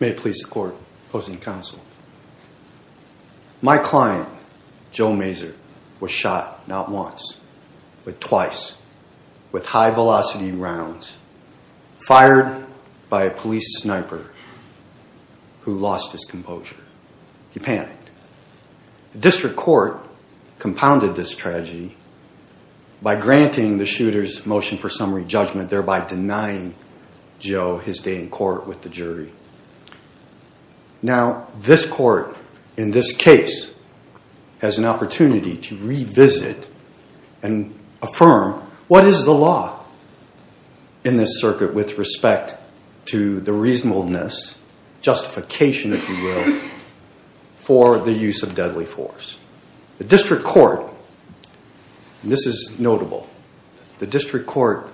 May it please the court, opposing counsel. My client, Joe Maser, was shot not once, but twice with high-velocity rounds, fired by a police sniper who lost his composure. He by granting the shooter's motion for summary judgment, thereby denying Joe his day in court with the jury. Now this court, in this case, has an opportunity to revisit and affirm what is the law in this circuit with respect to the reasonableness, justification, if you will, for the use of deadly force. The district court, and this is notable, the district court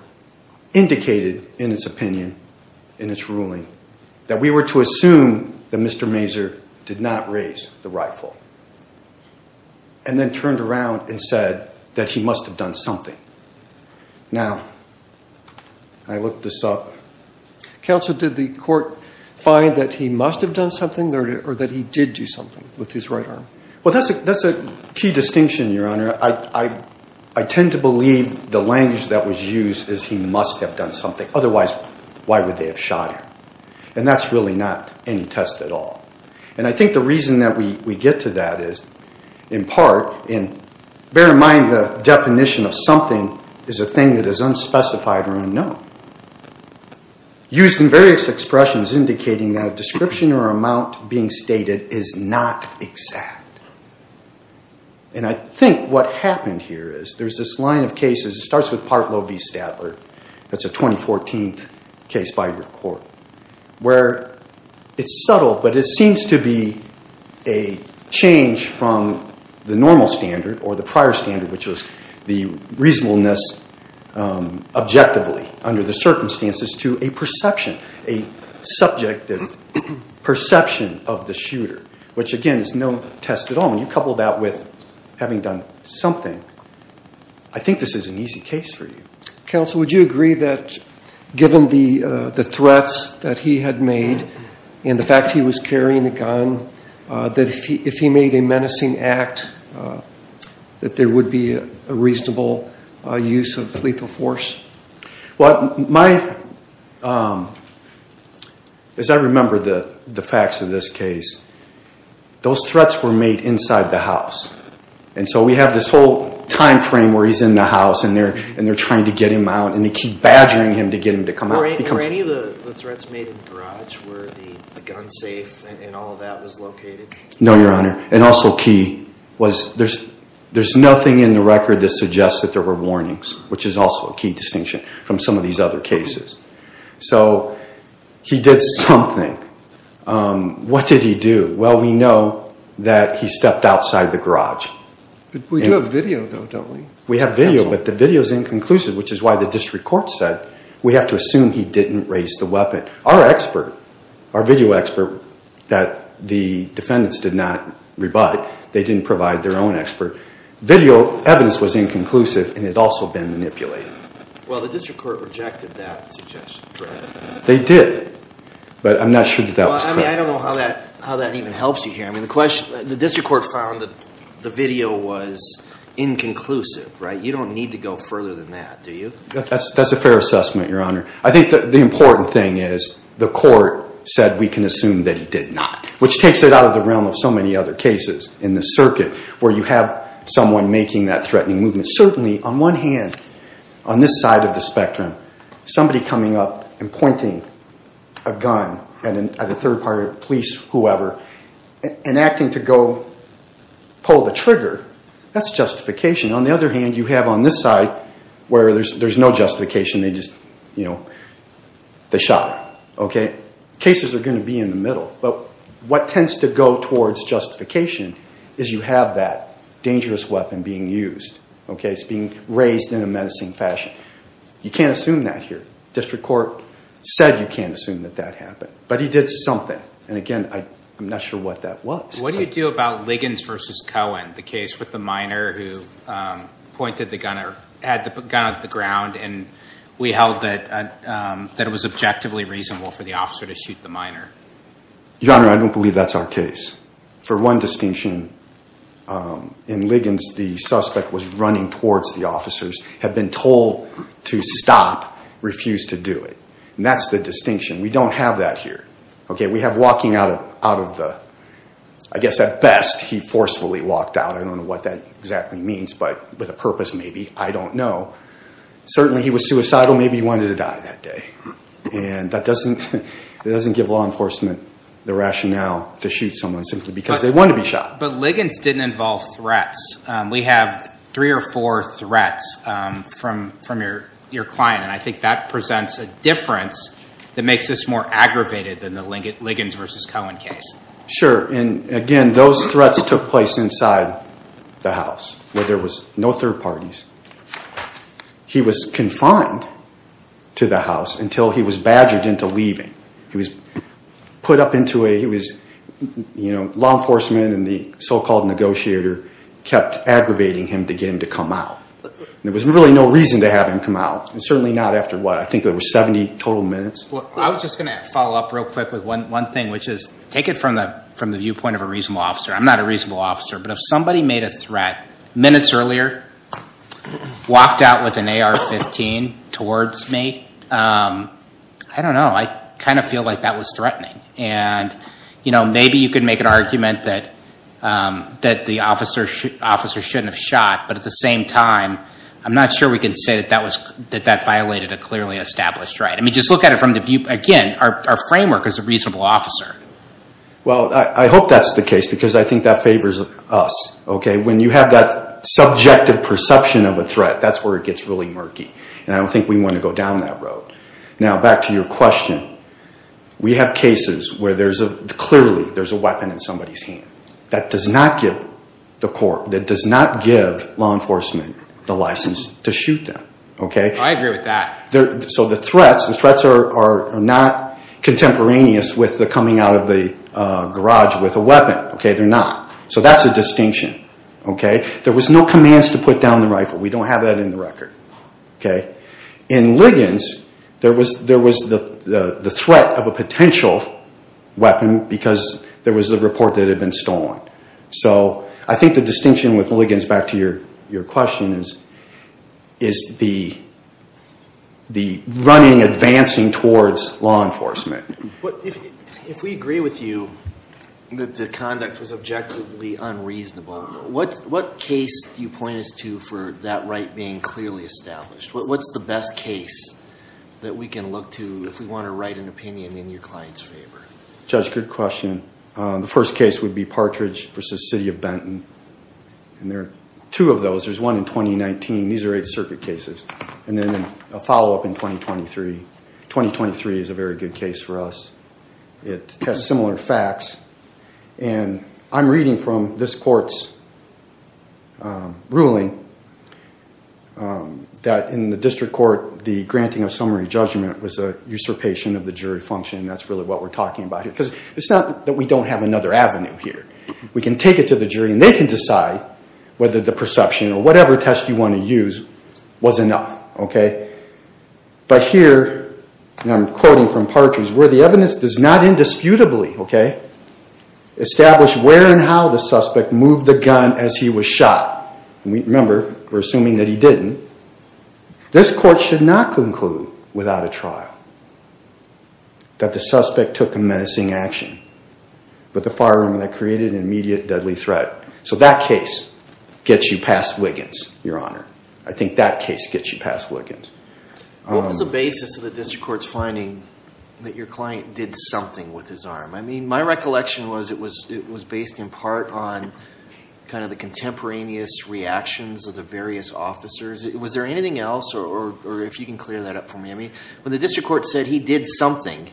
indicated in its opinion, in its ruling, that we were to assume that Mr. Maser did not raise the rifle, and then turned around and said that he must have done something. Now, I look this up. Counsel, did the court find that he must have done something, or that he did do something with his right arm? Well, that's a key distinction, Your Honor. I tend to believe the language that was used is he must have done something. Otherwise, why would they have shot him? And that's really not any test at all. And I think the reason that we get to that is, in part, and bear in mind the definition of something is a thing that is unspecified or unknown. Used in various expressions indicating that a description or amount being stated is not exact. And I think what happened here is there's this line of cases. It starts with Partlow v. Statler. That's a 2014 case by your court, where it's subtle, but it seems to be a change from the normal standard or the prior standard, which was the reasonableness objectively under the circumstances, to a perception, a subjective perception of the shooter, which, again, is no test at all. When you couple that with having done something, I think this is an easy case for you. Counsel, would you agree that, given the threats that he had made and the fact he was carrying a gun, that if he made a menacing act, that there would be a reasonable use of lethal force? Well, as I remember the facts of this case, those threats were made inside the house. And so we have this whole time frame where he's in the house and they're trying to get him out and they keep badgering him to get him to come out. Were any of the threats made in the garage where the gun safe and all of that was located? No, Your Honor. And also key was there's nothing in the record that suggests that there were warnings, which is also a key distinction from some of these other cases. So he did something. What did he do? Well, we know that he stepped outside the garage. We do have video, though, don't we? We have video, but the video is inconclusive, which is why the district court said we have to assume he didn't raise the weapon. Our expert, our video expert, that the defendants did not rebut, they didn't provide their own expert. Video evidence was inconclusive and had also been manipulated. Well, the district court rejected that suggestion. They did, but I'm not sure that that was correct. I mean, I don't know how that even helps you here. I mean, the district court found that the video was inconclusive, right? You don't need to go further than that, do you? That's a fair assessment, Your Honor. I think the important thing is the court said we can assume that he did not, which takes it out of the realm of so many other cases in the circuit where you have someone making that threatening movement. Certainly, on one hand, on this side of the spectrum, somebody coming up and pointing a gun at a third party, police, whoever, and acting to go pull the trigger, that's justification. On the other hand, you have on this side where there's no justification, they just, you know, they shot him, okay? Cases are going to be in the middle, but what tends to go towards justification is you have that dangerous weapon being used, okay? It's being raised in a menacing fashion. You can't assume that here. District court said you can't assume that that happened, but he did something, and again, I'm not sure what that was. What do you do about Liggins v. Cohen, the case with the minor who pointed the gun or had the gun at the ground, and we held that it was objectively reasonable for the officer to shoot the minor? Your Honor, I don't believe that's our case. For one distinction, in Liggins, the suspect was running towards the officers, had been told to stop, refused to do it. And that's the distinction. We don't have that here, okay? We have walking out of the, I guess at best, he forcefully walked out. I don't know what that exactly means, but with a purpose, maybe. I don't know. Certainly, he was suicidal. Maybe he wanted to die that day, and that doesn't give law enforcement the rationale to shoot someone simply because they wanted to be shot. But Liggins didn't involve threats. We have three or four threats from your client, and I think that presents a difference that makes this more aggravated than the Liggins v. Cohen case. Sure, and again, those threats took place inside the house where there was no third parties. He was confined to the house until he was badgered into leaving. He was put up into a, he was, you know, law enforcement and the so-called negotiator kept aggravating him to get him to come out. There was really no reason to have him come out, and certainly not after what, I think it was 70 total minutes. Well, I was just going to follow up real quick with one thing, which is, take it from the viewpoint of a reasonable officer. I'm not a reasonable officer, but if somebody made a threat minutes earlier, walked out with an AR-15 towards me, I don't know, I kind of feel like that was threatening. And, you know, maybe you could make an argument that the officer shouldn't have shot, but at the same time, I'm not sure we can say that that violated a clearly established right. I mean, just look at it from the viewpoint, again, our framework is a reasonable officer. Well, I hope that's the case, because I think that favors us, okay? When you have that subjective perception of a threat, that's where it gets really murky, and I don't think we want to go down that road. Now, back to your question. We have cases where there's a, clearly, there's a weapon in somebody's hand. That does not give the court, that does not give law enforcement the license to shoot them, okay? I agree with that. So the threats, the threats are not contemporaneous with the coming out of the garage with a weapon, okay? They're not. So that's a distinction, okay? There was no commands to put down the rifle. We don't have that in the record, okay? In Liggins, there was the threat of a potential weapon because there was a report that it had been stolen. So I think the distinction with Liggins, back to your question, is the running, advancing towards law enforcement. If we agree with you that the conduct was objectively unreasonable, what case do you point us to for that right being clearly established? What's the best case that we can look to if we want to write an opinion in your client's favor? Judge, good question. The first case would be Partridge v. City of Benton. And there are two of those. There's one in 2019. These are Eighth Circuit cases. And then a follow-up in 2023. 2023 is a very good case for us. It has similar facts. And I'm reading from this court's ruling that in the district court, the granting of summary judgment was a usurpation of the jury function. That's really what we're talking about here. Because it's not that we don't have another avenue here. We can take it to the jury and they can decide whether the perception or whatever test you want to use was enough, okay? But here, and I'm quoting from Partridge, where the evidence does not indisputably establish where and how the suspect moved the gun as he was shot. Remember, we're assuming that he didn't. This court should not conclude without a trial that the suspect took a menacing action with a firearm that created an immediate deadly threat. So that case gets you past Wiggins, Your Honor. I think that case gets you past Wiggins. What was the basis of the district court's finding that your client did something with his arm? I mean, my recollection was it was based in part on kind of the contemporaneous reactions of the various officers. Was there anything else or if you can clear that up for me? I mean, when the district court said he did something,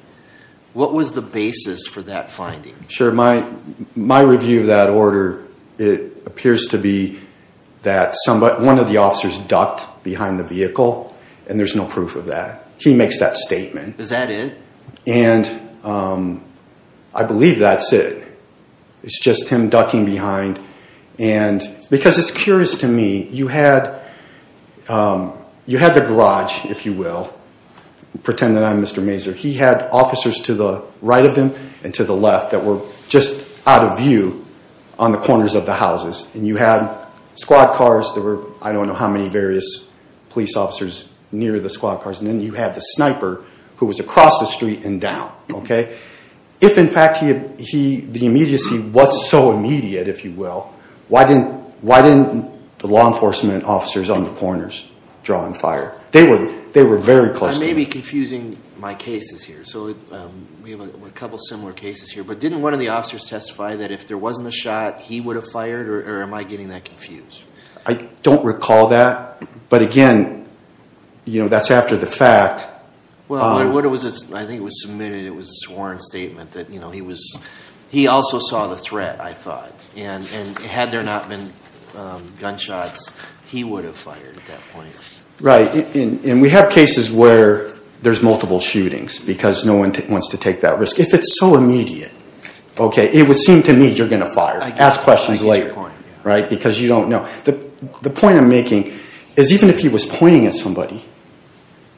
what was the basis for that finding? Sure. My review of that order, it appears to be that one of the officers ducked behind the vehicle and there's no proof of that. He makes that statement. Is that it? And I believe that's it. It's just him ducking behind. And because it's curious to me, you had the garage, if you will. Pretend that I'm Mr. Mazur. He had officers to the right of him and to the left that were just out of view on the corners of the houses. And you had squad cars. There were I don't know how many various police officers near the squad cars. And then you have the sniper who was across the street and down. If, in fact, the immediacy was so immediate, if you will, why didn't the law enforcement officers on the corners draw and fire? They were very close. I may be confusing my cases here. So we have a couple similar cases here. But didn't one of the officers testify that if there wasn't a shot, he would have fired? Or am I getting that confused? I don't recall that. But, again, that's after the fact. Well, I think it was submitted. It was a sworn statement that he also saw the threat, I thought. And had there not been gunshots, he would have fired at that point. Right. And we have cases where there's multiple shootings because no one wants to take that risk. If it's so immediate, OK, it would seem to me you're going to fire. Ask questions later. Right? Because you don't know. The point I'm making is even if he was pointing at somebody,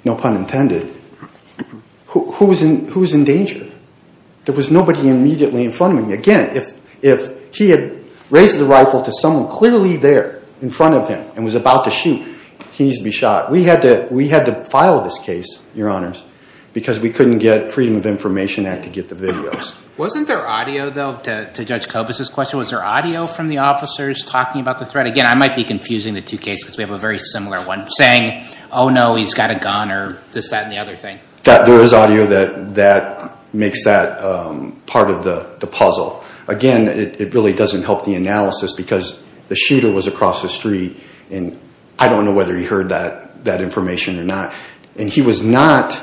no pun intended, who was in danger? There was nobody immediately in front of him. Again, if he had raised the rifle to someone clearly there in front of him and was about to shoot, he needs to be shot. We had to file this case, Your Honors, because we couldn't get Freedom of Information Act to get the videos. Wasn't there audio, though, to Judge Kobus' question? Was there audio from the officers talking about the threat? Again, I might be confusing the two cases because we have a very similar one. Saying, oh, no, he's got a gun or just that and the other thing. There is audio that makes that part of the puzzle. Again, it really doesn't help the analysis because the shooter was across the street, and I don't know whether he heard that information or not. And he was not,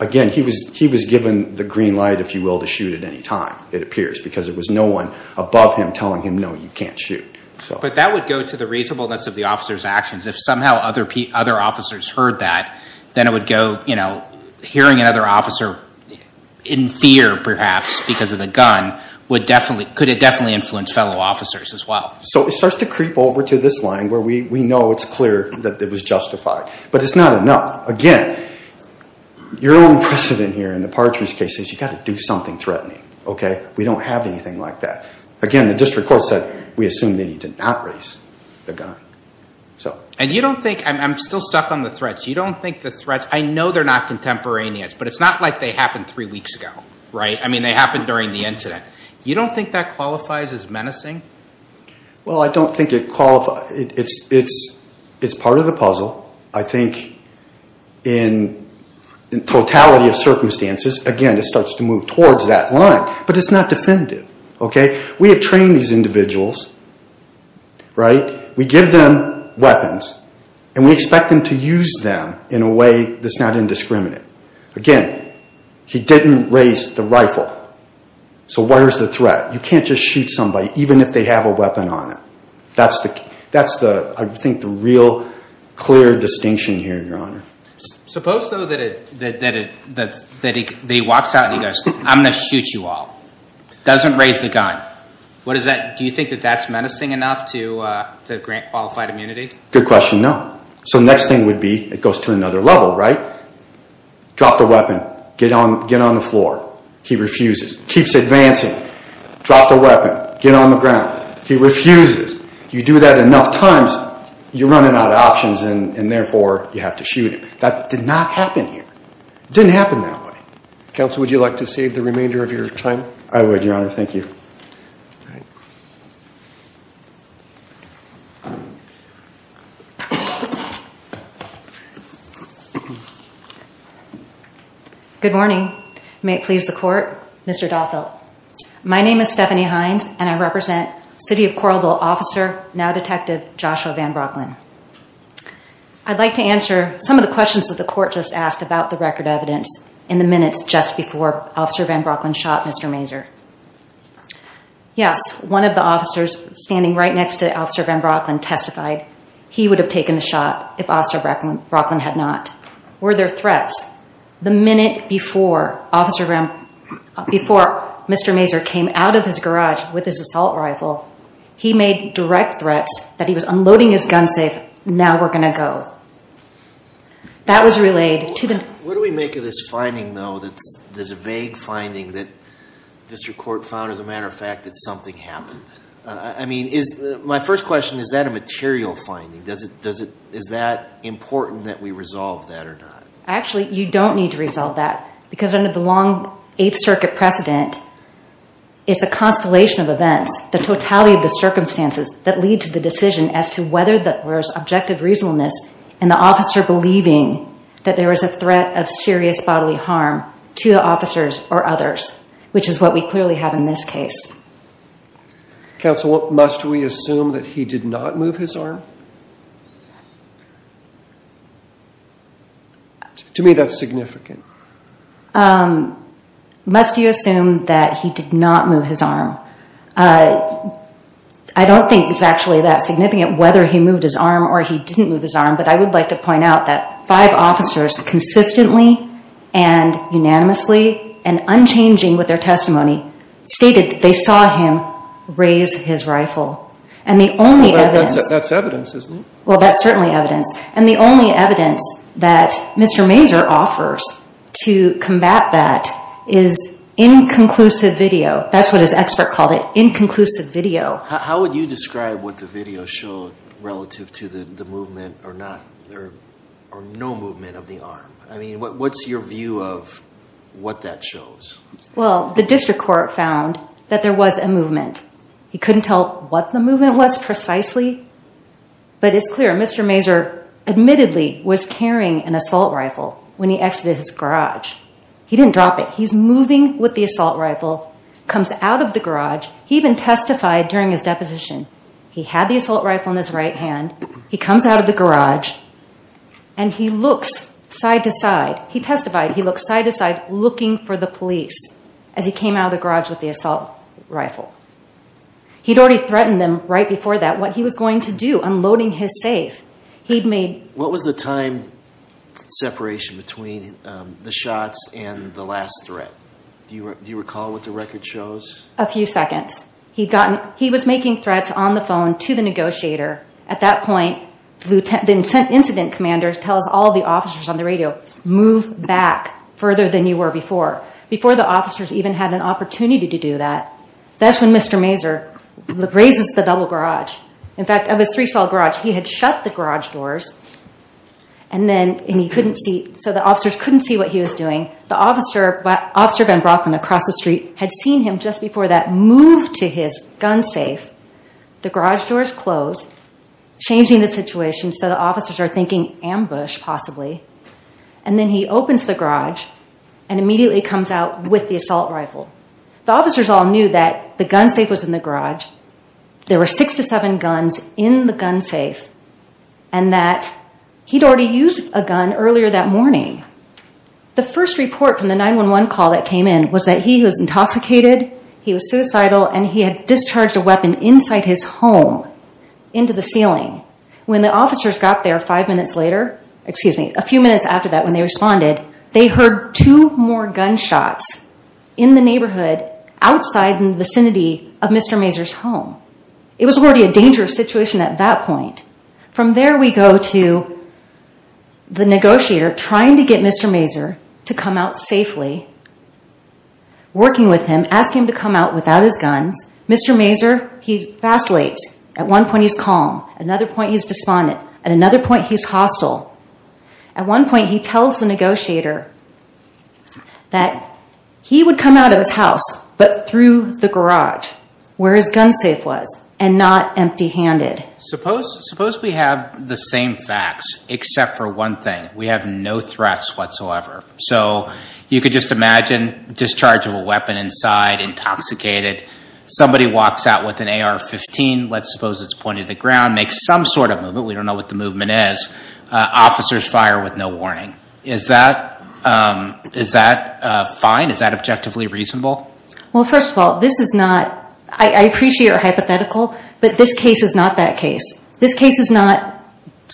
again, he was given the green light, if you will, to shoot at any time, it appears, because there was no one above him telling him, no, you can't shoot. But that would go to the reasonableness of the officer's actions. If somehow other officers heard that, then it would go, you know, hearing another officer in fear, perhaps, because of the gun, could it definitely influence fellow officers as well? So it starts to creep over to this line where we know it's clear that it was justified. But it's not enough. Again, your own precedent here in the Partridge case is you've got to do something threatening. Okay? We don't have anything like that. Again, the district court said we assume that he did not raise the gun. And you don't think, I'm still stuck on the threats, you don't think the threats, I know they're not contemporaneous, but it's not like they happened three weeks ago, right? I mean, they happened during the incident. You don't think that qualifies as menacing? Well, I don't think it qualifies, it's part of the puzzle. I think in totality of circumstances, again, it starts to move towards that line. But it's not definitive. Okay? We have trained these individuals, right? We give them weapons, and we expect them to use them in a way that's not indiscriminate. Again, he didn't raise the rifle. So where's the threat? You can't just shoot somebody even if they have a weapon on them. That's, I think, the real clear distinction here, Your Honor. Suppose, though, that he walks out and he goes, I'm going to shoot you all. Doesn't raise the gun. What is that? Do you think that that's menacing enough to grant qualified immunity? Good question. No. So next thing would be, it goes to another level, right? Drop the weapon. Get on the floor. He refuses. Keeps advancing. Drop the weapon. Get on the ground. He refuses. You do that enough times, you're running out of options, and therefore, you have to shoot him. That did not happen here. It didn't happen that way. Counsel, would you like to save the remainder of your time? I would, Your Honor. Thank you. Good morning. May it please the Court. Mr. Dothill. My name is Stephanie Hines, and I represent City of Coralville Officer, now Detective, Joshua Van Brocklin. I'd like to answer some of the questions that the Court just asked about the record evidence in the minutes just before Officer Van Brocklin shot Mr. Mazur. Yes, one of the officers standing right next to Officer Van Brocklin testified he would have taken the shot if Officer Van Brocklin had not. Were there threats? The minute before Mr. Mazur came out of his garage with his assault rifle, he made direct threats that he was unloading his gun safe. Now we're going to go. That was relayed to them. What do we make of this finding, though, this vague finding that District Court found, as a matter of fact, that something happened? I mean, my first question, is that a material finding? Is that important that we resolve that or not? Actually, you don't need to resolve that because under the long Eighth Circuit precedent, it's a constellation of events, the totality of the circumstances, that lead to the decision as to whether there's objective reasonableness in the officer believing that there was a threat of serious bodily harm to the officers or others, which is what we clearly have in this case. Counsel, must we assume that he did not move his arm? To me, that's significant. Must you assume that he did not move his arm? I don't think it's actually that significant whether he moved his arm or he didn't move his arm, but I would like to point out that five officers consistently and unanimously and unchanging with their testimony stated that they saw him raise his rifle. That's evidence, isn't it? Well, that's certainly evidence. And the only evidence that Mr. Mazur offers to combat that is inconclusive video. That's what his expert called it, inconclusive video. How would you describe what the video showed relative to the movement or no movement of the arm? I mean, what's your view of what that shows? Well, the district court found that there was a movement. He couldn't tell what the movement was precisely, but it's clear. Mr. Mazur admittedly was carrying an assault rifle when he exited his garage. He didn't drop it. He's moving with the assault rifle, comes out of the garage. He even testified during his deposition. He had the assault rifle in his right hand. He comes out of the garage, and he looks side to side. He testified he looked side to side looking for the police as he came out of the garage with the assault rifle. He'd already threatened them right before that what he was going to do, unloading his safe. What was the time separation between the shots and the last threat? Do you recall what the record shows? A few seconds. He was making threats on the phone to the negotiator. At that point, the incident commander tells all the officers on the radio, move back further than you were before, before the officers even had an opportunity to do that. That's when Mr. Mazur raises the double garage. In fact, of his three-stall garage, he had shut the garage doors, and he couldn't see, so the officers couldn't see what he was doing. The officer, Officer Van Brocklin, across the street, had seen him just before that move to his gun safe. The garage doors closed, changing the situation so the officers are thinking ambush, possibly. And then he opens the garage and immediately comes out with the assault rifle. The officers all knew that the gun safe was in the garage. There were six to seven guns in the gun safe and that he'd already used a gun earlier that morning. The first report from the 911 call that came in was that he was intoxicated, he was suicidal, and he had discharged a weapon inside his home into the ceiling. When the officers got there five minutes later, excuse me, a few minutes after that when they responded, they heard two more gunshots in the neighborhood outside in the vicinity of Mr. Mazur's home. It was already a dangerous situation at that point. From there, we go to the negotiator trying to get Mr. Mazur to come out safely, working with him, asking him to come out without his guns. Mr. Mazur, he vacillates. At one point, he's calm. At another point, he's despondent. At another point, he's hostile. At one point, he tells the negotiator that he would come out of his house but through the garage where his gun safe was and not empty-handed. Suppose we have the same facts except for one thing. We have no threats whatsoever. So you could just imagine discharge of a weapon inside, intoxicated. Somebody walks out with an AR-15. Let's suppose it's pointed to the ground, makes some sort of movement. We don't know what the movement is. Officers fire with no warning. Is that fine? Is that objectively reasonable? Well, first of all, this is not – I appreciate you're hypothetical, but this case is not that case. This case is not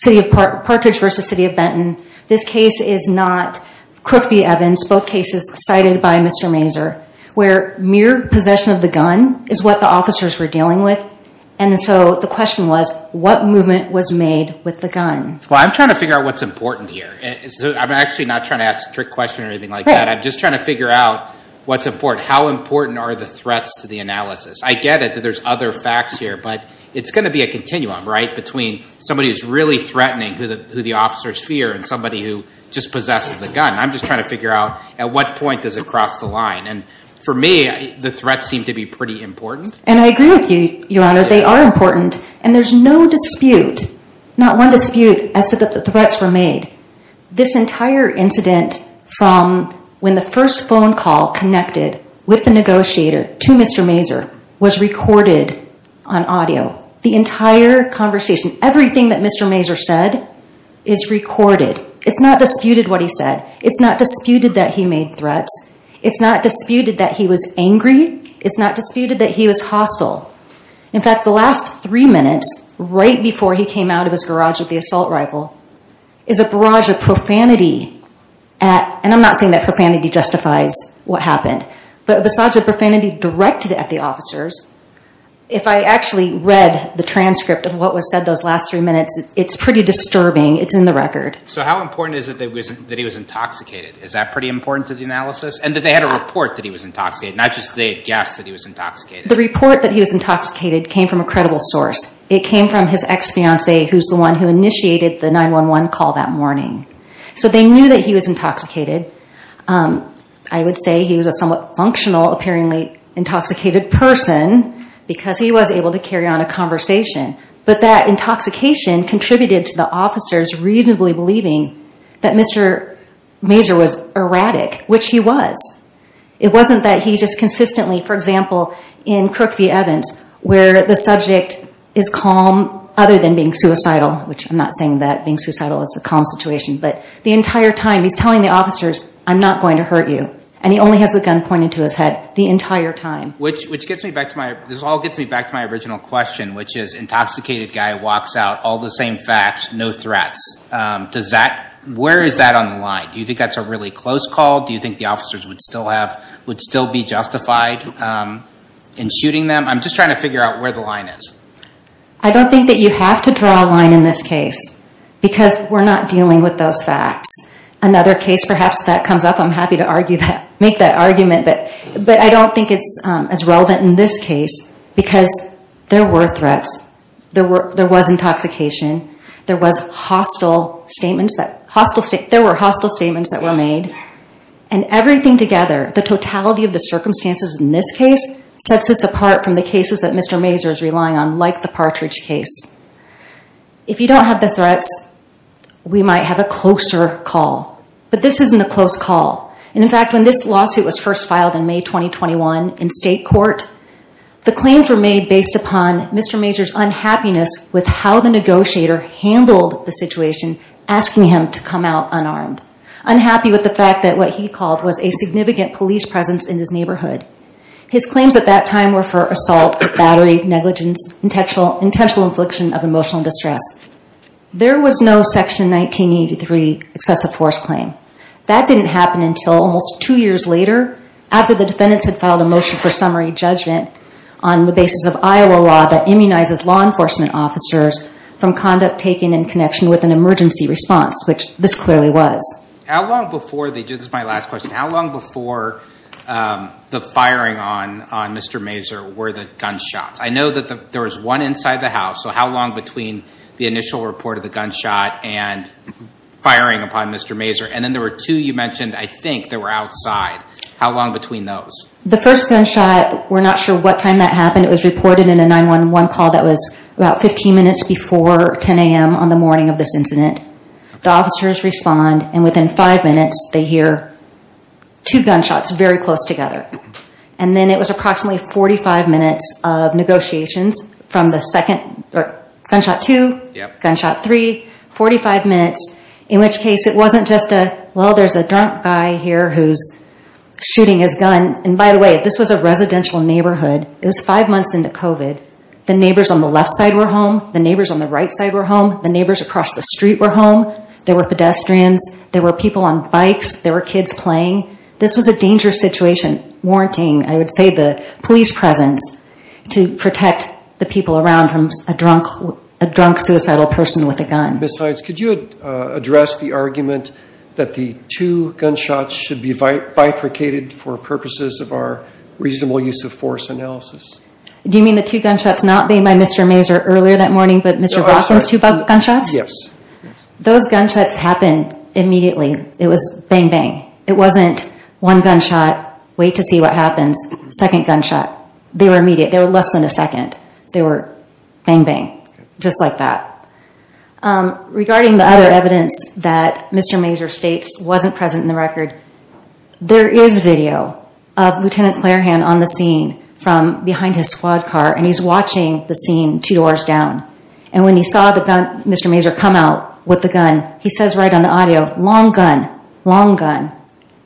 Partridge v. City of Benton. This case is not Crook v. Evans, both cases cited by Mr. Mazur, where mere possession of the gun is what the officers were dealing with. And so the question was, what movement was made with the gun? Well, I'm trying to figure out what's important here. I'm actually not trying to ask a trick question or anything like that. I'm just trying to figure out what's important. How important are the threats to the analysis? I get it that there's other facts here, but it's going to be a continuum, right, between somebody who's really threatening who the officers fear and somebody who just possesses the gun. I'm just trying to figure out at what point does it cross the line. And for me, the threats seem to be pretty important. And I agree with you, Your Honor. They are important, and there's no dispute, not one dispute, as to the threats were made. This entire incident from when the first phone call connected with the negotiator to Mr. Mazur was recorded on audio. The entire conversation, everything that Mr. Mazur said is recorded. It's not disputed what he said. It's not disputed that he made threats. It's not disputed that he was angry. It's not disputed that he was hostile. In fact, the last three minutes right before he came out of his garage with the assault rifle is a barrage of profanity at, and I'm not saying that profanity justifies what happened, but a barrage of profanity directed at the officers. If I actually read the transcript of what was said those last three minutes, it's pretty disturbing. It's in the record. So how important is it that he was intoxicated? Is that pretty important to the analysis? And that they had a report that he was intoxicated, not just they had guessed that he was intoxicated. The report that he was intoxicated came from a credible source. It came from his ex-fiancee, who's the one who initiated the 911 call that morning. So they knew that he was intoxicated. I would say he was a somewhat functional, apparently intoxicated person because he was able to carry on a conversation. But that intoxication contributed to the officers reasonably believing that Mr. Mazur was erratic, which he was. It wasn't that he just consistently, for example, in Crook v. Evans, where the subject is calm other than being suicidal, which I'm not saying that being suicidal is a calm situation, but the entire time he's telling the officers, I'm not going to hurt you. And he only has the gun pointed to his head the entire time. Which gets me back to my, this all gets me back to my original question, which is intoxicated guy walks out, all the same facts, no threats. Does that, where is that on the line? Do you think that's a really close call? Do you think the officers would still have, would still be justified in shooting them? I'm just trying to figure out where the line is. I don't think that you have to draw a line in this case because we're not dealing with those facts. Another case perhaps that comes up, I'm happy to argue that, make that argument, but I don't think it's as relevant in this case because there were threats. There was intoxication. There was hostile statements that, there were hostile statements that were made. And everything together, the totality of the circumstances in this case, sets us apart from the cases that Mr. Mazur is relying on like the Partridge case. If you don't have the threats, we might have a closer call. But this isn't a close call. And in fact, when this lawsuit was first filed in May 2021 in state court, the claims were made based upon Mr. Mazur's unhappiness with how the negotiator handled the situation asking him to come out unarmed. Unhappy with the fact that what he called was a significant police presence in his neighborhood. His claims at that time were for assault, battery, negligence, intentional infliction of emotional distress. There was no Section 1983 excessive force claim. That didn't happen until almost two years later after the defendants had filed a motion for summary judgment on the basis of Iowa law that immunizes law enforcement officers from conduct taken in connection with an emergency response, which this clearly was. How long before, this is my last question, how long before the firing on Mr. Mazur were the gunshots? I know that there was one inside the house, so how long between the initial report of the gunshot and firing upon Mr. Mazur? And then there were two you mentioned, I think, that were outside. How long between those? The first gunshot, we're not sure what time that happened. It was reported in a 911 call that was about 15 minutes before 10 a.m. on the morning of this incident. The officers respond, and within five minutes they hear two gunshots very close together. And then it was approximately 45 minutes of negotiations from the second, or gunshot two, gunshot three, 45 minutes, in which case it wasn't just a, well, there's a drunk guy here who's shooting his gun. And by the way, this was a residential neighborhood. It was five months into COVID. The neighbors on the left side were home. The neighbors on the right side were home. The neighbors across the street were home. There were pedestrians. There were people on bikes. There were kids playing. This was a dangerous situation, warranting, I would say, the police presence to protect the people around from a drunk suicidal person with a gun. Ms. Hines, could you address the argument that the two gunshots should be bifurcated for purposes of our reasonable use of force analysis? Do you mean the two gunshots not being by Mr. Mazur earlier that morning, but Mr. Rothman's two gunshots? Yes. Those gunshots happened immediately. It was bang, bang. It wasn't one gunshot, wait to see what happens, second gunshot. They were immediate. They were less than a second. They were bang, bang, just like that. Regarding the other evidence that Mr. Mazur states wasn't present in the record, there is video of Lieutenant Clairhan on the scene from behind his squad car, and he's watching the scene two doors down. And when he saw Mr. Mazur come out with the gun, he says right on the audio, long gun, long gun.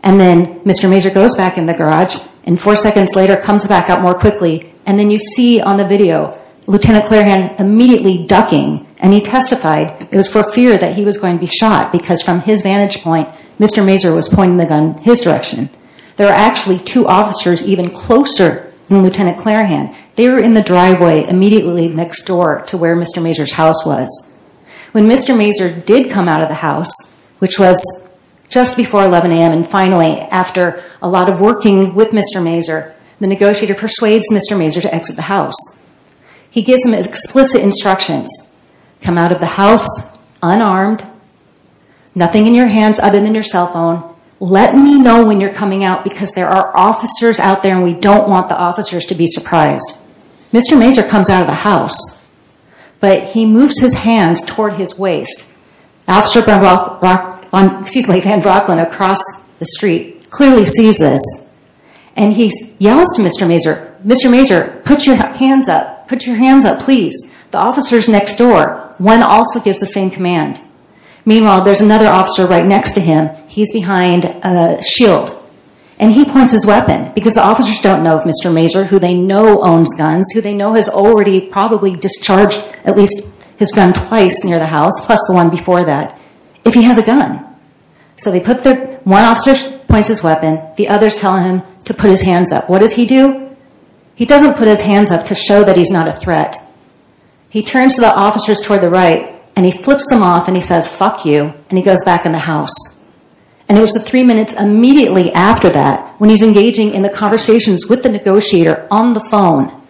And then Mr. Mazur goes back in the garage, and four seconds later comes back out more quickly, and then you see on the video Lieutenant Clairhan immediately ducking, and he testified it was for fear that he was going to be shot because from his vantage point, Mr. Mazur was pointing the gun his direction. There are actually two officers even closer than Lieutenant Clairhan. They were in the driveway immediately next door to where Mr. Mazur's house was. When Mr. Mazur did come out of the house, which was just before 11 a.m. and finally after a lot of working with Mr. Mazur, the negotiator persuades Mr. Mazur to exit the house. He gives him explicit instructions. Come out of the house unarmed, nothing in your hands other than your cell phone. Let me know when you're coming out because there are officers out there, and we don't want the officers to be surprised. Mr. Mazur comes out of the house, but he moves his hands toward his waist. Officer Van Brocklin across the street clearly sees this, and he yells to Mr. Mazur, Mr. Mazur, put your hands up. Put your hands up, please. The officer's next door. One also gives the same command. Meanwhile, there's another officer right next to him. He's behind a shield, and he points his weapon because the officers don't know if Mr. Mazur, who they know owns guns, who they know has already probably discharged at least his gun twice near the house, plus the one before that, if he has a gun. One officer points his weapon. The others tell him to put his hands up. What does he do? He doesn't put his hands up to show that he's not a threat. He turns to the officers toward the right, and he flips them off, and he says, fuck you, and he goes back in the house. It was three minutes immediately after that when he's engaging in the conversations with the negotiator on the phone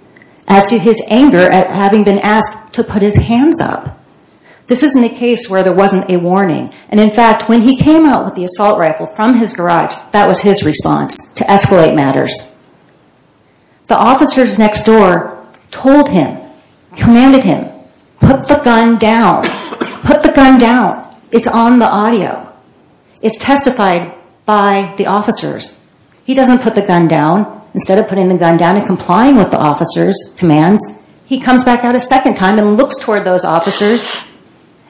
as to his anger at having been asked to put his hands up. This isn't a case where there wasn't a warning. In fact, when he came out with the assault rifle from his garage, that was his response to escalate matters. The officers next door told him, commanded him, put the gun down. Put the gun down. It's on the audio. It's testified by the officers. He doesn't put the gun down. Instead of putting the gun down and complying with the officer's commands, he comes back out a second time and looks toward those officers,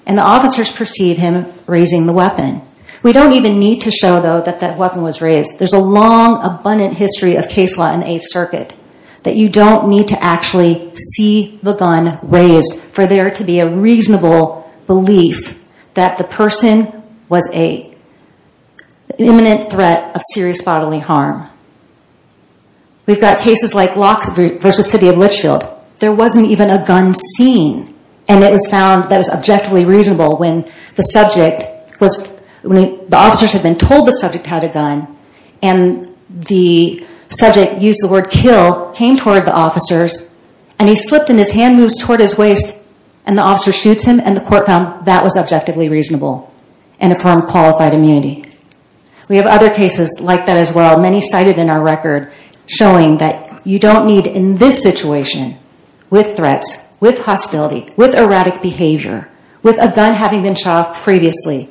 and the officers perceive him raising the weapon. We don't even need to show, though, that that weapon was raised. There's a long, abundant history of case law in the Eighth Circuit that you don't need to actually see the gun raised for there to be a reasonable belief that the person was an imminent threat of serious bodily harm. We've got cases like Loxley v. City of Litchfield. There wasn't even a gun seen, and it was found that it was objectively reasonable when the officers had been told the subject had a gun, and the subject used the word kill, came toward the officers, and he slipped and his hand moves toward his waist, and the officer shoots him, and the court found that was objectively reasonable and affirmed qualified immunity. We have other cases like that as well. Many cited in our record showing that you don't need in this situation, with threats, with hostility, with erratic behavior, with a gun having been shoved previously,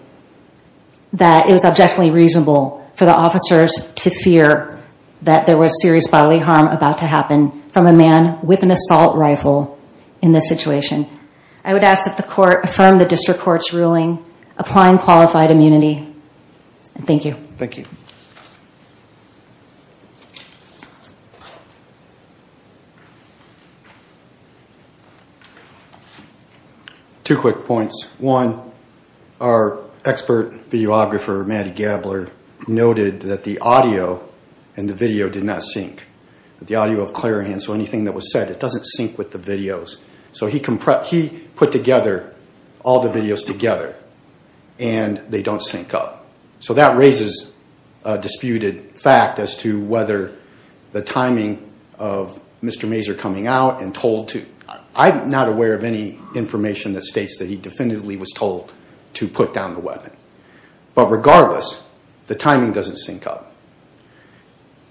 that it was objectively reasonable for the officers to fear that there was serious bodily harm about to happen from a man with an assault rifle in this situation. I would ask that the court affirm the district court's ruling, applying qualified immunity. Thank you. Thank you. Two quick points. One, our expert videographer, Matt Gabler, noted that the audio and the video did not sync. The audio of Clarion, so anything that was said, it doesn't sync with the videos. So he put together all the videos together, and they don't sync up. So that raises a disputed fact as to whether the timing of Mr. Mazur coming out and told to. I'm not aware of any information that states that he definitively was told to put down the weapon. But regardless, the timing doesn't sync up.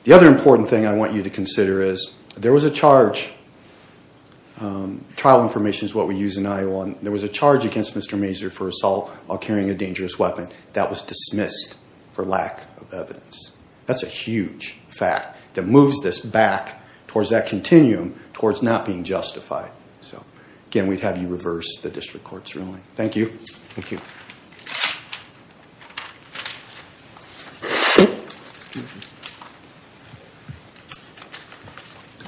The other important thing I want you to consider is there was a charge. Trial information is what we use in Iowa. There was a charge against Mr. Mazur for assault while carrying a dangerous weapon. That was dismissed for lack of evidence. That's a huge fact that moves this back towards that continuum towards not being justified. So again, we'd have you reverse the district court's ruling. Thank you. Thank you. Thank you.